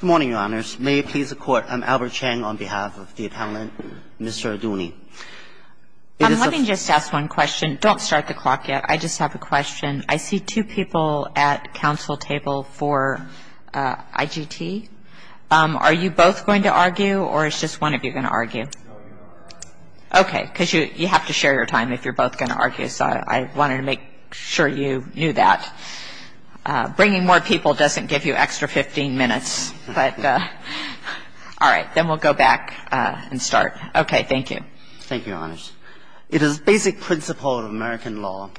Good morning, Your Honors. May it please the Court, I'm Albert Cheng on behalf of the Attendant, Mr. Arduini. Let me just ask one question. Don't start the clock yet. I just have a question. I see two people at counsel table for IGT. Are you both going to argue, or is just one of you going to argue? No, we're going to argue. OK, because you have to share your time if you're both going to argue, so I wanted to make sure you knew that. Bringing more people doesn't give you extra 15 minutes, but all right, then we'll go back and start. OK, thank you. Thank you, Your Honors. It is basic principle of American law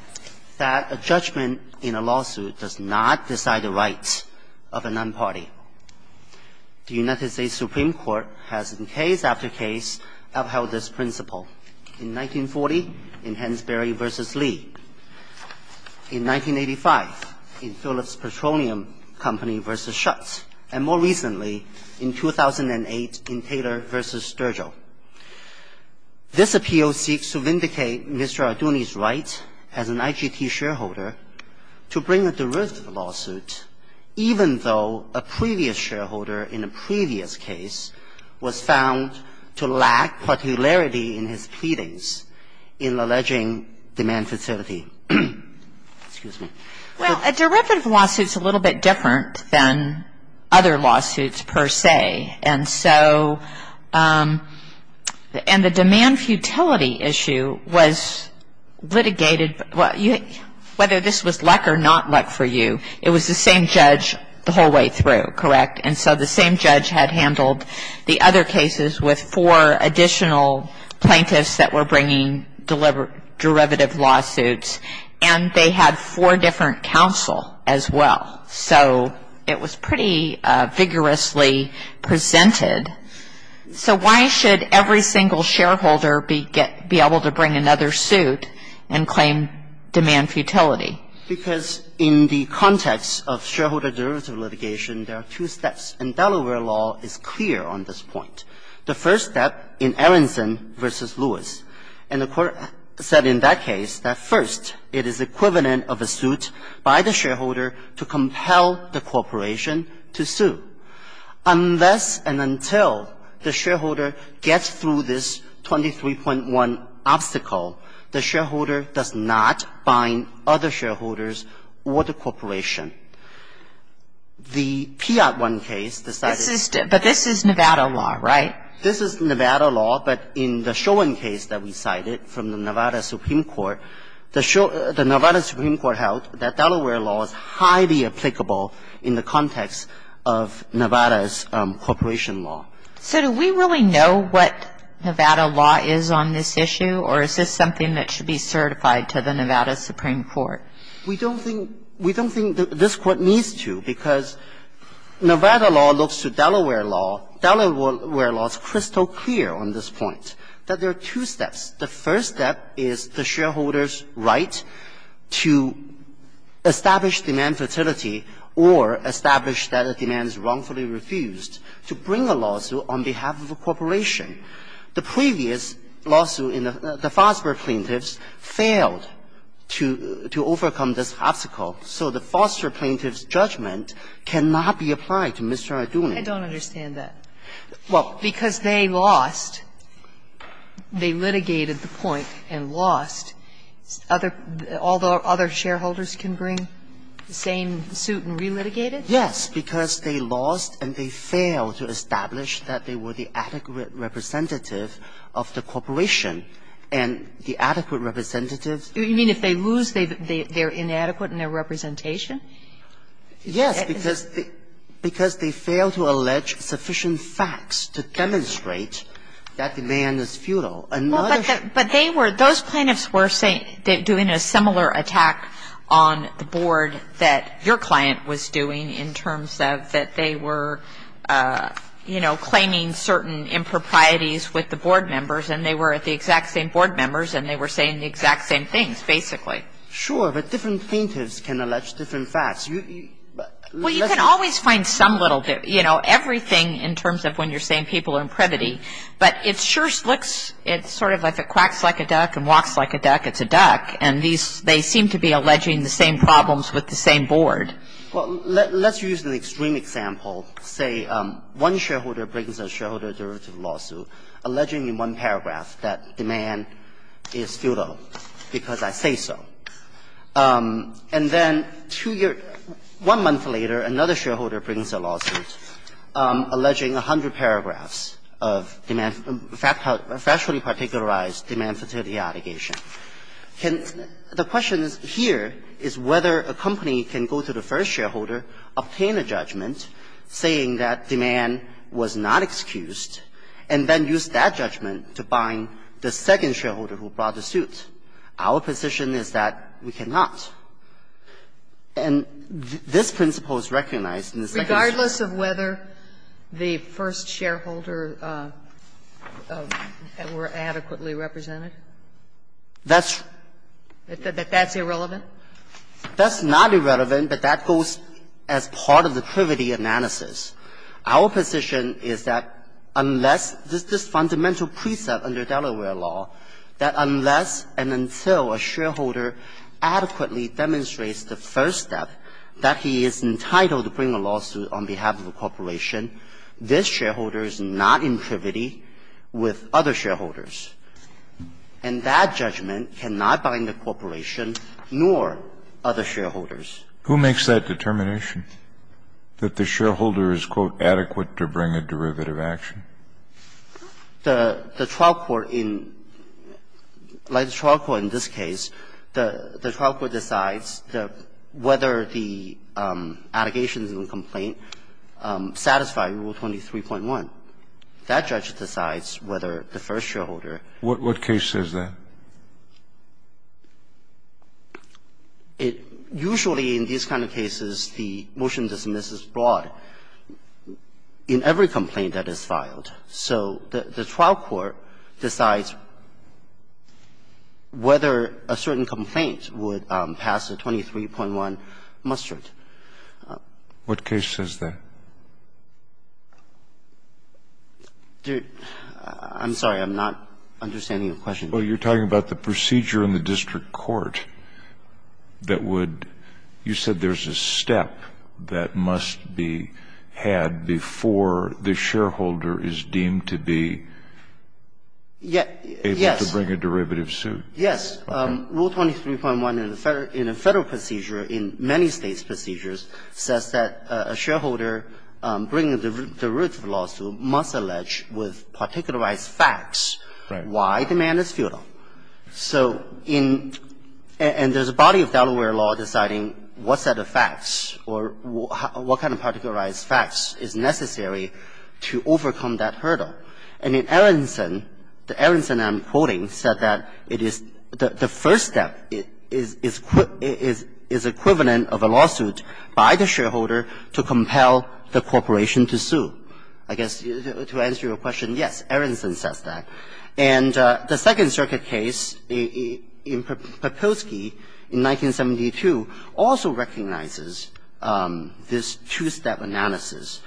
that a judgment in a lawsuit does not decide the rights of a non-party. The United States Supreme Court has, in case after case, upheld this principle. In 1940, in Hensbury v. Lee. In 1985, in Phillips Petroleum Company v. Schutz. And more recently, in 2008, in Taylor v. Sturgill. This appeal seeks to vindicate Mr. Arduini's right as an IGT shareholder to bring a derivative lawsuit, even though a previous shareholder in a previous case was found to lack particularity in his pleadings in alleging demand futility. Excuse me. Well, a derivative lawsuit is a little bit different than other lawsuits, per se. And so, and the demand futility issue was litigated, whether this was luck or not luck for you, it was the same judge the whole way through, correct? And so the same judge had handled the other cases with four additional plaintiffs that were bringing derivative lawsuits. And they had four different counsel as well. So it was pretty vigorously presented. So why should every single shareholder be able to bring another suit and claim demand futility? Because in the context of shareholder derivative litigation, there are two steps. And Delaware law is clear on this point. The first step in Aronson v. Lewis. And the court said in that case that first, it is equivalent of a suit by the shareholder to compel the corporation to sue. Unless and until the shareholder gets through this 23.1 obstacle, the shareholder does not bind other shareholders or the corporation. The Piatt one case decided to do that. But this is Nevada law, right? This is Nevada law. But in the Schoen case that we cited from the Nevada Supreme Court, the Nevada Supreme Court held that Delaware law is highly applicable in the context of Nevada's corporation law. So do we really know what Nevada law is on this issue? Or is this something that should be certified to the Nevada Supreme Court? We don't think this court needs to. Because Nevada law looks to Delaware law. Delaware law is crystal clear on this point. That there are two steps. The first step is the shareholder's right to establish demand fertility or establish that a demand is wrongfully refused to bring a lawsuit on behalf of a corporation. The previous lawsuit in the Fosber plaintiffs failed to overcome this obstacle. So the Fosber plaintiffs' judgment cannot be applied to Mr. Arduin. I don't understand that. Well, because they lost, they litigated the point and lost, other other shareholders can bring the same suit and relitigate it? Yes, because they lost and they failed to establish that they were the adequate representative of the corporation and the adequate representative. You mean if they lose, they're inadequate in their representation? Yes, because they fail to allege sufficient facts to demonstrate that demand is futile. And not a shareholder's right to establish that a demand is wrongfully refused to bring a lawsuit on behalf of a corporation. Well, but they were, those plaintiffs were saying, doing a similar attack on the board that your client was doing in terms of that they were, you know, claiming certain improprieties with the board members and they were at the exact same board members and they were saying the exact same things, basically. Sure, but different plaintiffs can allege different facts. Well, you can always find some little bit, you know, everything in terms of when you're saying people are impredity. But it sure looks, it's sort of like it quacks like a duck and walks like a duck, it's a duck. And these, they seem to be alleging the same problems with the same board. Well, let's use an extreme example. Say one shareholder brings a shareholder derivative lawsuit alleging in one paragraph that demand is futile because I say so. And then two years, one month later, another shareholder brings a lawsuit alleging 100 paragraphs of demand, factually particularized demand for fertility allegation. Can the question here is whether a company can go to the first shareholder, obtain a judgment saying that demand was not excused, and then use that judgment to bind the second shareholder who brought the suit. Our position is that we cannot. And this principle is recognized in the second suit. Regardless of whether the first shareholder were adequately represented? That's irrelevant? That's not irrelevant, but that goes as part of the privity analysis. Our position is that unless this fundamental precept under Delaware law, that unless and until a shareholder adequately demonstrates the first step that he is entitled to bring a lawsuit on behalf of a corporation, this shareholder is not in privity with other shareholders. And that judgment cannot bind the corporation nor other shareholders. Who makes that determination, that the shareholder is, quote, adequate to bring a derivative action? The trial court in the trial court in this case, the trial court decides whether the allegations in the complaint satisfy Rule 23.1. That judge decides whether the first shareholder What case is that? It usually in these kind of cases, the motion to dismiss is brought in every complaint that is filed, so the trial court decides whether a certain complaint would pass the 23.1 muster. What case is that? I'm sorry, I'm not understanding your question. Well, you're talking about the procedure in the district court that would, you said there's a step that must be had before the shareholder is deemed to be able to bring a derivative suit. Yes. Rule 23.1 in a Federal procedure, in many States procedures, says that a shareholder bringing a derivative lawsuit must allege with particularized facts why the man is futile. So in – and there's a body of Delaware law deciding what set of facts or what kind of particularized facts is necessary to overcome that hurdle. And in Aronson, the Aronson I'm quoting said that it is – the first step is equivalent of a lawsuit by the shareholder to compel the corporation to sue. I guess to answer your question, yes, Aronson says that. And the Second Circuit case in Papilsky in 1972 also recognizes this two-step analysis.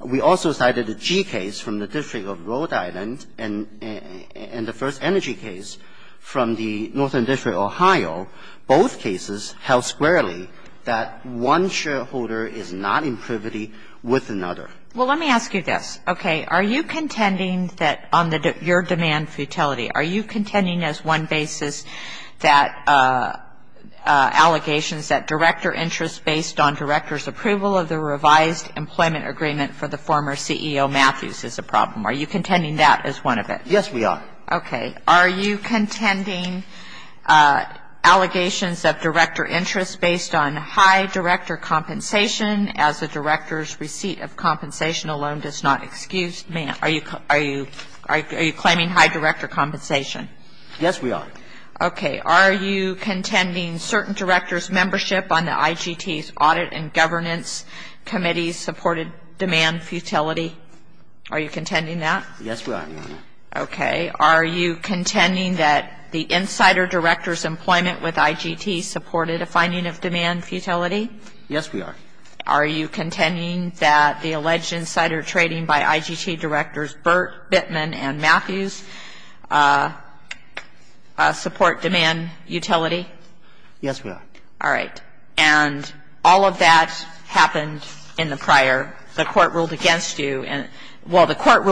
We also cited a G case from the District of Rhode Island and the first energy case from the Northern District of Ohio. Both cases held squarely that one shareholder is not in privity with another. Well, let me ask you this, okay? Are you contending that on the – your demand for utility, are you contending as one basis that allegations that director interest based on director's approval of the revised employment agreement for the former CEO Matthews is a problem? Are you contending that as one of it? Yes, we are. Okay. Are you contending allegations of director interest based on high director compensation as the director's receipt of compensation alone does not excuse – are you claiming high director compensation? Yes, we are. Okay. Are you contending certain director's membership on the IGT's audit and governance committee supported demand for utility? Are you contending that? Yes, we are, Your Honor. Okay. Are you contending that the insider director's employment with IGT supported a finding of demand for utility? Yes, we are. Are you contending that the alleged insider trading by IGT directors Burt, Bittman, and Matthews support demand utility? Yes, we are. All right. And all of that happened in the prior. The court ruled against you. All of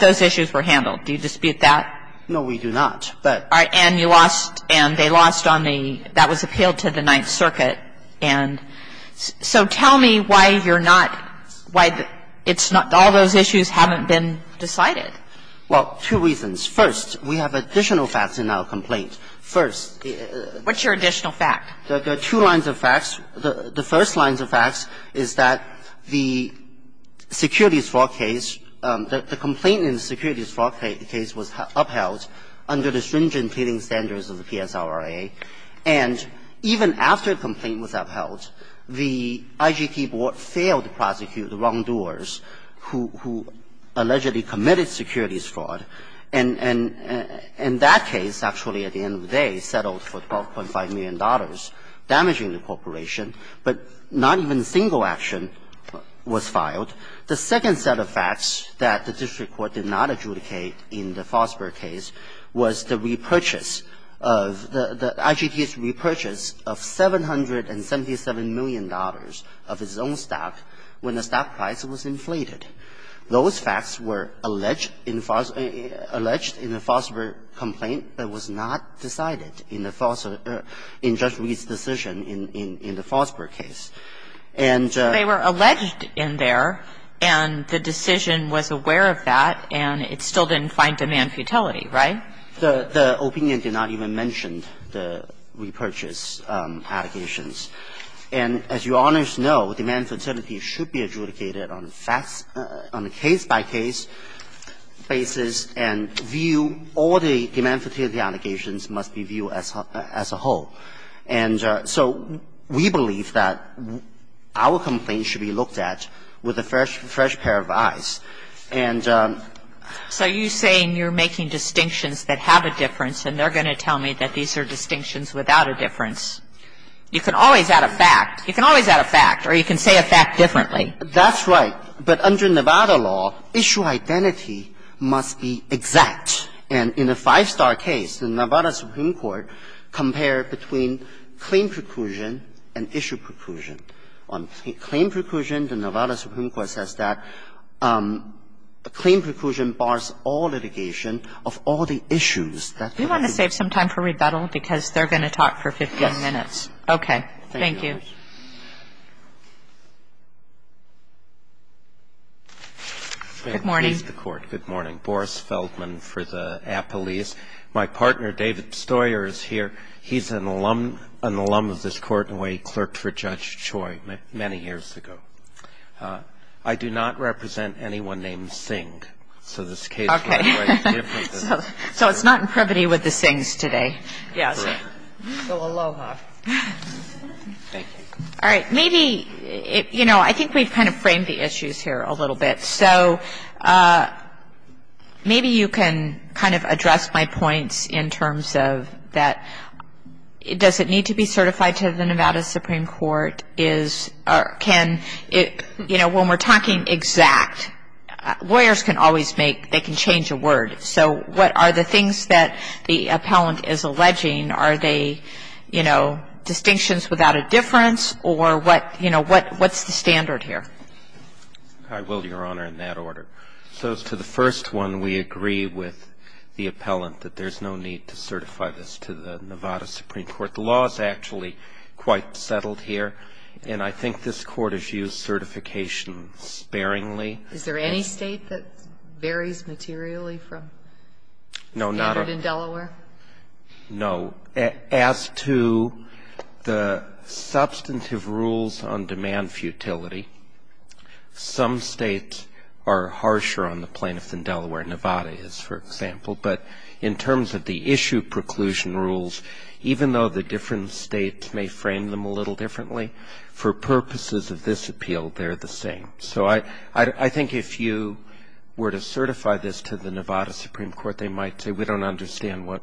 those issues were handled. Do you dispute that? No, we do not. All right. And you lost – and they lost on the – that was appealed to the Ninth Circuit. And so tell me why you're not – why it's not – all those issues haven't been decided. Well, two reasons. First, we have additional facts in our complaint. First – What's your additional fact? There are two lines of facts. The first lines of facts is that the securities fraud case – the complaint in the securities fraud case was upheld under the stringent pleading standards of the PSRRA. And even after the complaint was upheld, the IGT board failed to prosecute the wrongdoers who allegedly committed securities fraud. And in that case, actually, at the end of the day, settled for $12.5 million damaging the corporation, but not even a single action was filed. The second set of facts that the district court did not adjudicate in the Fosbur case was the repurchase of – the IGT's repurchase of $777 million of its own stock when the stock price was inflated. Those facts were alleged in the Fosbur complaint, but it was not decided in the Fosbur case. And – They were alleged in there, and the decision was aware of that, and it still didn't find demand futility, right? The opinion did not even mention the repurchase allegations. And as Your Honors know, demand futility should be adjudicated on facts – on a case-by-case basis and view all the demand futility allegations must be viewed as a whole. And so we believe that our complaint should be looked at with a fresh pair of eyes. And – So you're saying you're making distinctions that have a difference, and they're going to tell me that these are distinctions without a difference. You can always add a fact. You can always add a fact, or you can say a fact differently. That's right. But under Nevada law, issue identity must be exact. And in a five-star case, the Nevada Supreme Court compared between claim preclusion and issue preclusion. On claim preclusion, the Nevada Supreme Court says that claim preclusion bars all litigation of all the issues that – Do you want to save some time for rebuttal? Because they're going to talk for 15 minutes. Yes. Thank you. Good morning. Good morning. I'm Boris Feldman for the Appellees. My partner, David Stoyer, is here. He's an alum of this court in a way. He clerked for Judge Choi many years ago. I do not represent anyone named Singh. So this case – Okay. So it's not in privity with the Singhs today. Yes. Correct. So aloha. Thank you. All right. Maybe, you know, I think we've kind of framed the issues here a little bit. So maybe you can kind of address my points in terms of that does it need to be certified to the Nevada Supreme Court? Is – can – you know, when we're talking exact, lawyers can always make – they can change a word. So what are the things that the appellant is alleging? Are they, you know, distinctions without a difference? Or what – you know, what's the standard here? I will, Your Honor, in that order. So to the first one, we agree with the appellant that there's no need to certify this to the Nevada Supreme Court. The law is actually quite settled here, and I think this Court has used certification sparingly. Is there any State that varies materially from standard in Delaware? No. As to the substantive rules on demand futility, some States are harsher on the plaintiffs in Delaware. Nevada is, for example. But in terms of the issue preclusion rules, even though the different States may frame them a little differently, for purposes of this appeal, they're the same. So I think if you were to certify this to the Nevada Supreme Court, they might say, we don't understand what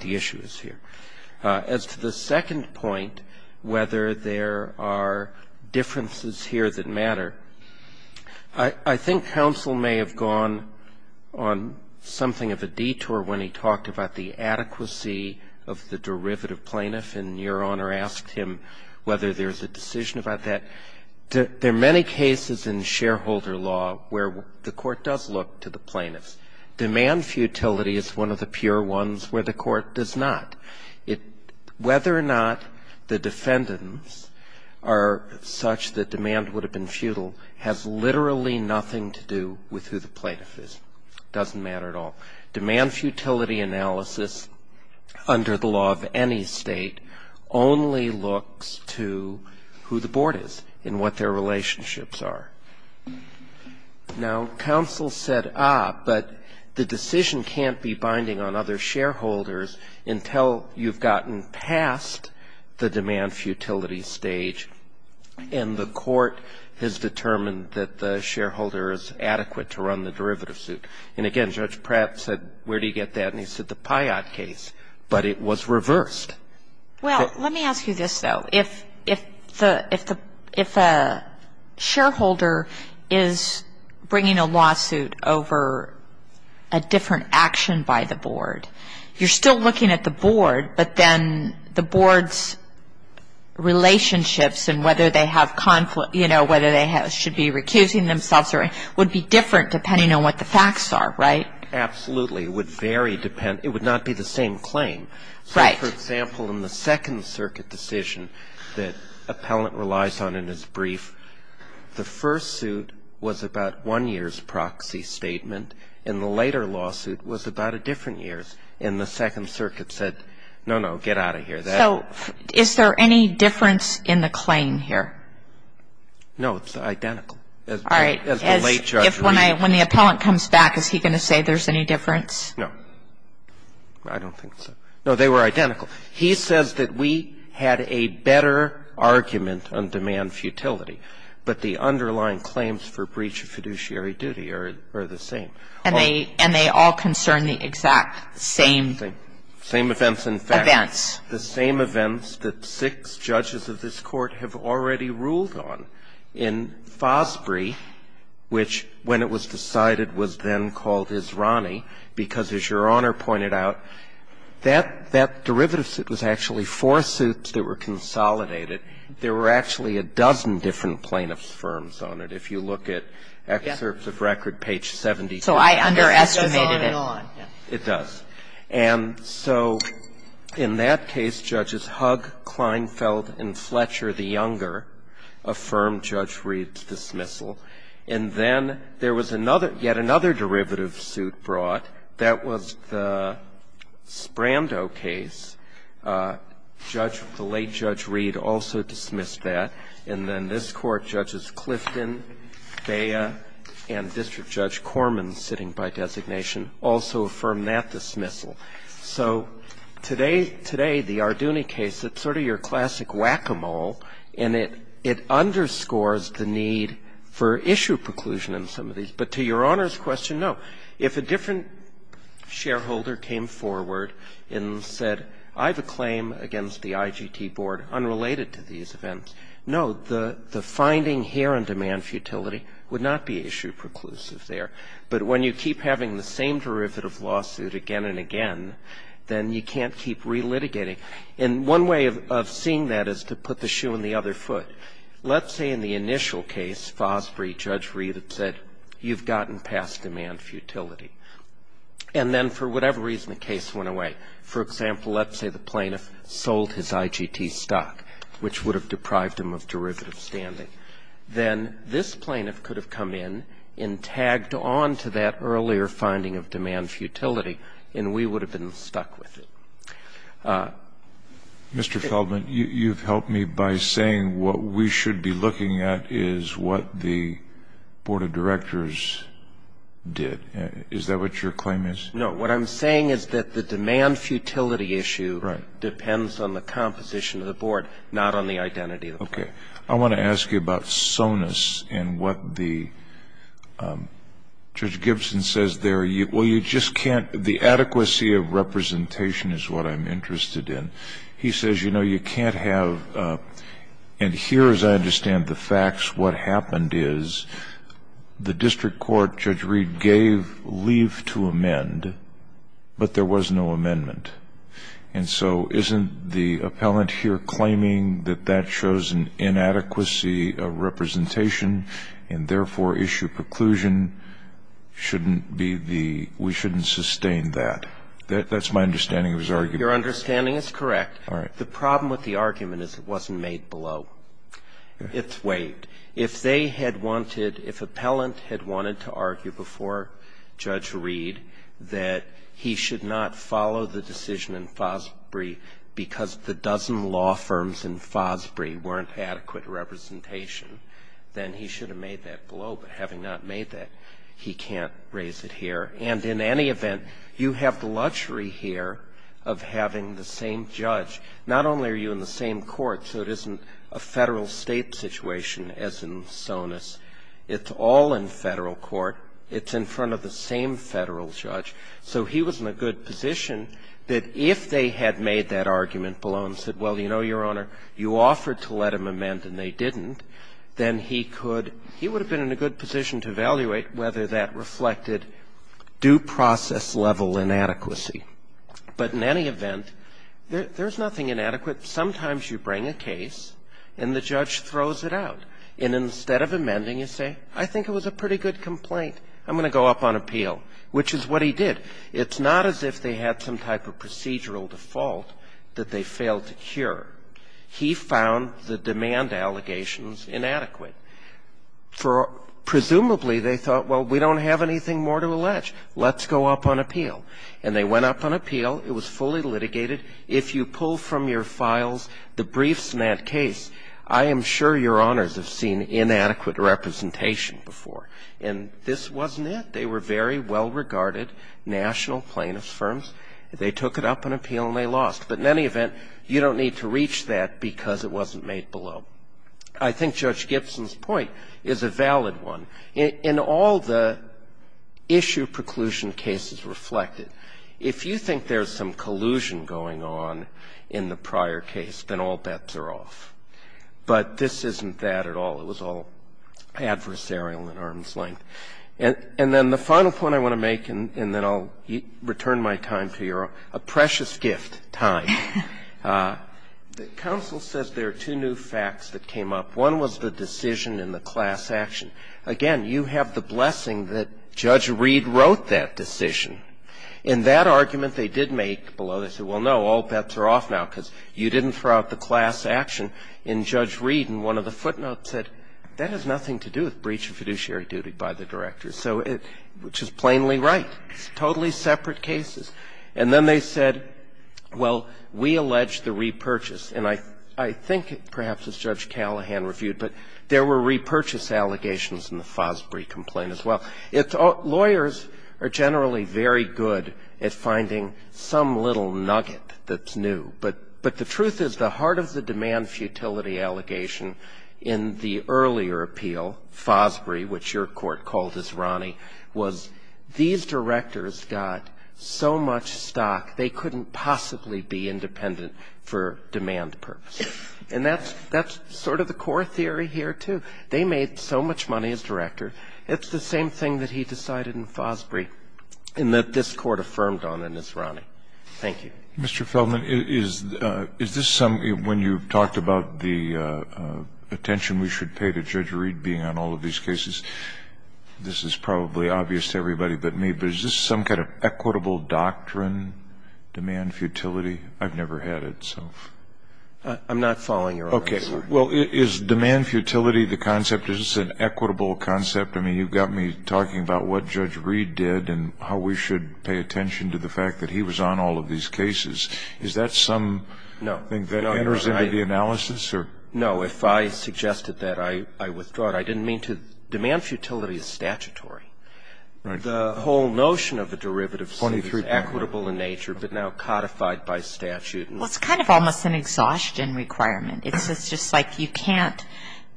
the issue is here. As to the second point, whether there are differences here that matter, I think counsel may have gone on something of a detour when he talked about the adequacy of the derivative plaintiff, and Your Honor asked him whether there's a decision about that. There are many cases in shareholder law where the Court does look to the plaintiffs. Demand futility is one of the pure ones where the Court does not. Whether or not the defendants are such that demand would have been futile has literally nothing to do with who the plaintiff is. It doesn't matter at all. Demand futility analysis under the law of any State only looks to who the board is and what their relationships are. Now, counsel said, ah, but the decision can't be binding on other shareholders until you've gotten past the demand futility stage, and the Court has determined that the shareholder is adequate to run the derivative suit. And again, Judge Pratt said, where do you get that? And he said the Pyatt case, but it was reversed. Well, let me ask you this, though. If a shareholder is bringing a lawsuit over a different action by the board, you're still looking at the board, but then the board's relationships and whether they have conflict, you know, whether they should be recusing themselves would be different depending on what the facts are, right? Absolutely. It would vary. It would not be the same claim. So for example, in the Second Circuit decision that Appellant relies on in his brief, the first suit was about one year's proxy statement, and the later lawsuit was about a different year's. And the Second Circuit said, no, no, get out of here. So is there any difference in the claim here? No, it's identical. All right. When the Appellant comes back, is he going to say there's any difference? No. I don't think so. No, they were identical. He says that we had a better argument on demand futility, but the underlying claims for breach of fiduciary duty are the same. And they all concern the exact same events. Same events, in fact. The same events that six judges of this Court have already ruled on in Fosbury, which when it was decided was then called Israni, because as Your Honor pointed out, that derivative suit was actually four suits that were consolidated. There were actually a dozen different plaintiff's firms on it. If you look at Excerpts of Record, page 72. So I underestimated it. It goes on and on. It does. And so in that case, Judges Hugg, Kleinfeld, and Fletcher, the younger, affirmed Judge Reed's dismissal. And then there was yet another derivative suit brought. That was the Sprando case. The late Judge Reed also dismissed that. And then this Court, Judges Clifton, Bea, and District Judge Corman, sitting by designation, also affirmed that dismissal. So today, the Arduni case, it's sort of your classic whack-a-mole, and it underscores the need for issue preclusion in some of these. But to Your Honor's question, no. If a different shareholder came forward and said, I have a claim against the IGT Board unrelated to these events, no, the finding here on demand futility would not be issue preclusive there. But when you keep having the same derivative lawsuit again and again, then you can't keep relitigating. And one way of seeing that is to put the shoe on the other foot. Let's say in the initial case, Fosbury, Judge Reed had said, you've gotten past demand futility. And then for whatever reason, the case went away. For example, let's say the plaintiff sold his IGT stock, which would have deprived him of derivative standing. Then this plaintiff could have come in and tagged on to that earlier finding of demand futility, and we would have been stuck with it. Mr. Feldman, you've helped me by saying what we should be looking at is what the Board of Directors did. Is that what your claim is? No. What I'm saying is that the demand futility issue depends on the composition of the Board, not on the identity of the Board. Okay. I want to ask you about SONUS and what the Judge Gibson says there. The adequacy of representation is what I'm interested in. He says, you know, you can't have – and here, as I understand the facts, what happened is the district court, Judge Reed, gave leave to amend, but there was no amendment. And so isn't the appellant here claiming that that shows an inadequacy of representation? That's my understanding of his argument. Your understanding is correct. All right. The problem with the argument is it wasn't made below. It's waived. If they had wanted – if appellant had wanted to argue before Judge Reed that he should not follow the decision in Fosbury because the dozen law firms in Fosbury weren't adequate representation, then he should have made that below. But having not made that, he can't raise it here. And in any event, you have the luxury here of having the same judge. Not only are you in the same court, so it isn't a federal-state situation as in SONUS. It's all in federal court. It's in front of the same federal judge. So he was in a good position that if they had made that argument below and said, well, you know, Your Honor, you offered to let him amend and they didn't, then he could – he would have been in a good position to evaluate whether that reflected due process level inadequacy. But in any event, there's nothing inadequate. Sometimes you bring a case and the judge throws it out. And instead of amending, you say, I think it was a pretty good complaint. I'm going to go up on appeal, which is what he did. It's not as if they had some type of procedural default that they failed to cure. He found the demand allegations inadequate. Presumably, they thought, well, we don't have anything more to allege. Let's go up on appeal. And they went up on appeal. It was fully litigated. If you pull from your files the briefs in that case, I am sure Your Honors have seen inadequate representation before. And this wasn't it. They were very well-regarded national plaintiffs' firms. They took it up on appeal and they lost. But in any event, you don't need to reach that because it wasn't made below. I think Judge Gibson's point is a valid one. In all the issue preclusion cases reflected, if you think there's some collusion going on in the prior case, then all bets are off. But this isn't that at all. It was all adversarial in arm's length. And then the final point I want to make, and then I'll return my time to Your Honor, a precious gift, time. The counsel said there are two new facts that came up. One was the decision in the class action. Again, you have the blessing that Judge Reed wrote that decision. In that argument they did make below, they said, well, no, all bets are off now because you didn't throw out the class action in Judge Reed. And one of the footnotes said, that has nothing to do with breach of fiduciary duty by the director, which is plainly right. It's totally separate cases. And then they said, well, we allege the repurchase. And I think perhaps as Judge Callahan reviewed, but there were repurchase allegations in the Fosbury complaint as well. Lawyers are generally very good at finding some little nugget that's new. But the truth is the heart of the demand futility allegation in the earlier appeal, Fosbury, which your Court called as Ronnie, was these directors got so much stock they couldn't possibly be independent for demand purposes. And that's sort of the core theory here, too. They made so much money as director. It's the same thing that he decided in Fosbury and that this Court affirmed on in his Ronnie. Thank you. Mr. Feldman, is this some, when you talked about the attention we should pay to Judge Reed being on all of these cases, this is probably obvious to everybody but me, but is this some kind of equitable doctrine, demand futility? I've never had it, so. I'm not following Your Honor. Okay. Well, is demand futility the concept? Is this an equitable concept? I mean, you've got me talking about what Judge Reed did and how we should pay attention to the fact that he was on all of these cases. Is that something that enters into the analysis or? No. If I suggested that, I withdraw it. I didn't mean to. Demand futility is statutory. Right. The whole notion of a derivative is equitable in nature but now codified by statute. Well, it's kind of almost an exhaustion requirement. It's just like you can't,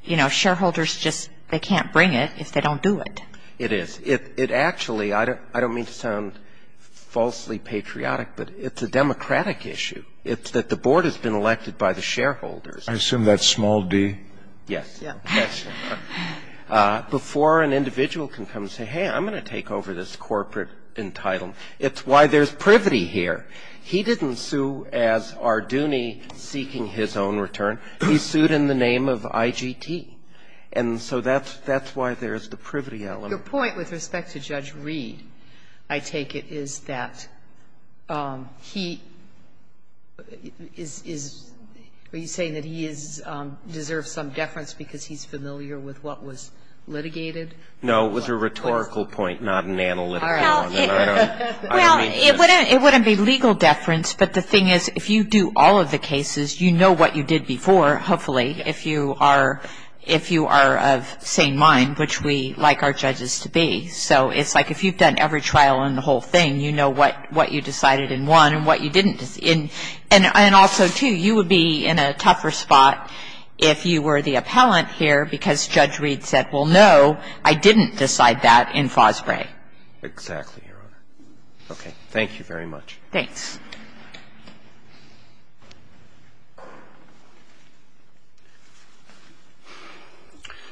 you know, shareholders just, they can't bring it if they don't do it. It is. It actually, I don't mean to sound falsely patriotic, but it's a democratic issue. It's that the board has been elected by the shareholders. I assume that's small d. Yes. Yes. Before an individual can come and say, hey, I'm going to take over this corporate entitlement. It's why there's privity here. He didn't sue as Arduni seeking his own return. He sued in the name of IGT. And so that's why there's the privity element. Your point with respect to Judge Reed, I take it, is that he is, are you saying that he deserves some deference because he's familiar with what was litigated? No, it was a rhetorical point, not an analytical one. All right. Well, it wouldn't be legal deference, but the thing is, if you do all of the cases, you know what you did before, hopefully, if you are of sane mind, which we, like our judges, to be. So it's like if you've done every trial in the whole thing, you know what you decided in one and what you didn't. And also, too, you would be in a tougher spot if you were the appellant here because Judge Reed said, well, no, I didn't decide that in FOSBRE. Exactly, Your Honor. Okay. Thank you very much. Thanks.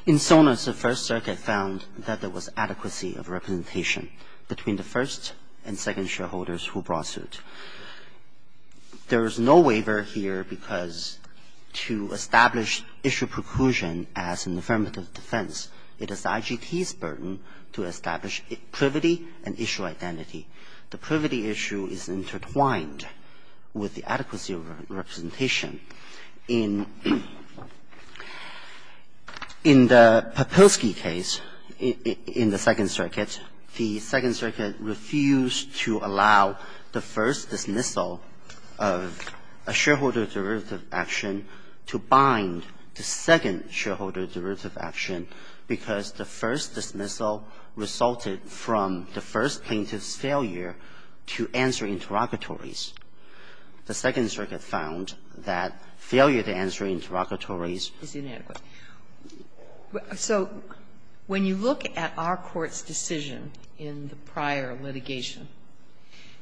In Sonos, the First Circuit found that there was adequacy of representation between the first and second shareholders who brought suit. There is no waiver here because to establish issue preclusion as an affirmative defense, it is IGT's burden to establish privity and issue identity. The privity issue is intertwined with the adequacy of representation. In the Papilsky case in the Second Circuit, the Second Circuit refused to allow the first dismissal of a shareholder derivative action to bind the second shareholder derivative action because the first dismissal resulted from the first plaintiff's failure to answer interrogatories. The Second Circuit found that failure to answer interrogatories is inadequate. So when you look at our Court's decision in the prior litigation,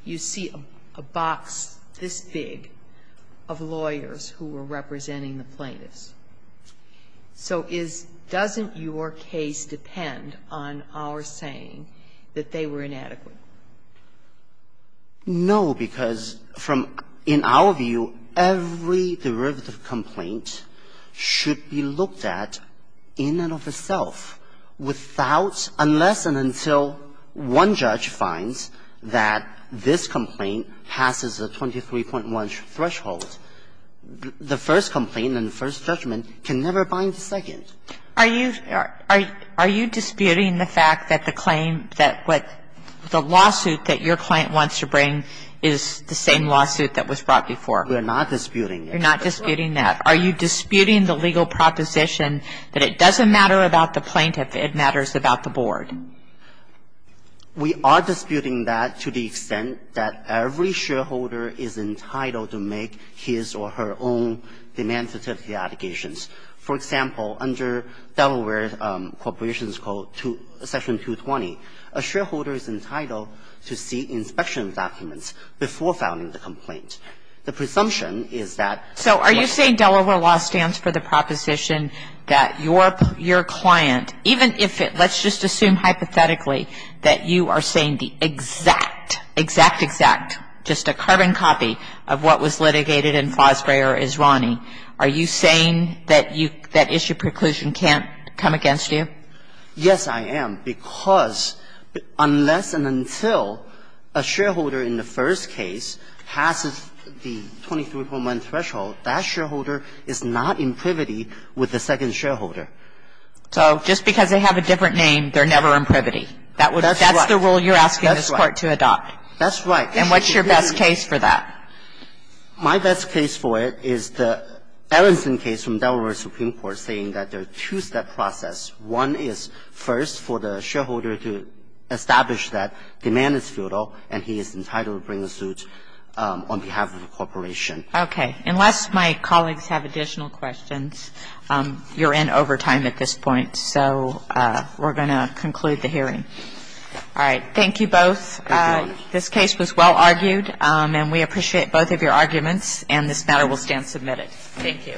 you see a box this big of lawyers who were representing the plaintiffs. So is – doesn't your case depend on our saying that they were inadequate? No, because from – in our view, every derivative complaint should be looked at in and of itself without – unless and until one judge finds that this complaint passes a 23.1 threshold. The first complaint and the first judgment can never bind the second. Are you – are you disputing the fact that the claim that what – the lawsuit that your client wants to bring is the same lawsuit that was brought before? We are not disputing it. You're not disputing that. Are you disputing the legal proposition that it doesn't matter about the plaintiff, it matters about the board? We are disputing that to the extent that every shareholder is entitled to make his or her own demand-certificate allegations. For example, under Delaware Corporation's Code, Section 220, a shareholder is entitled to see inspection documents before filing the complaint. The presumption is that – So are you saying Delaware law stands for the proposition that your – your client, even if it – let's just assume hypothetically that you are saying the exact, exact, exact, just a carbon copy of what was litigated in Fosbury or Israni, are you saying that you – that issue preclusion can't come against you? Yes, I am. Because unless and until a shareholder in the first case passes the 23.1 threshold, that shareholder is not in privity with the second shareholder. So just because they have a different name, they're never in privity. That's the rule you're asking this Court to adopt. That's right. And what's your best case for that? My best case for it is the Aronson case from Delaware Supreme Court saying that there are two-step process. One is, first, for the shareholder to establish that demand is futile and he is entitled to bring a suit on behalf of the corporation. Okay. Unless my colleagues have additional questions, you're in overtime at this point, so we're going to conclude the hearing. All right. Thank you both. This case was well argued, and we appreciate both of your arguments, and this matter will stand submitted. Thank you.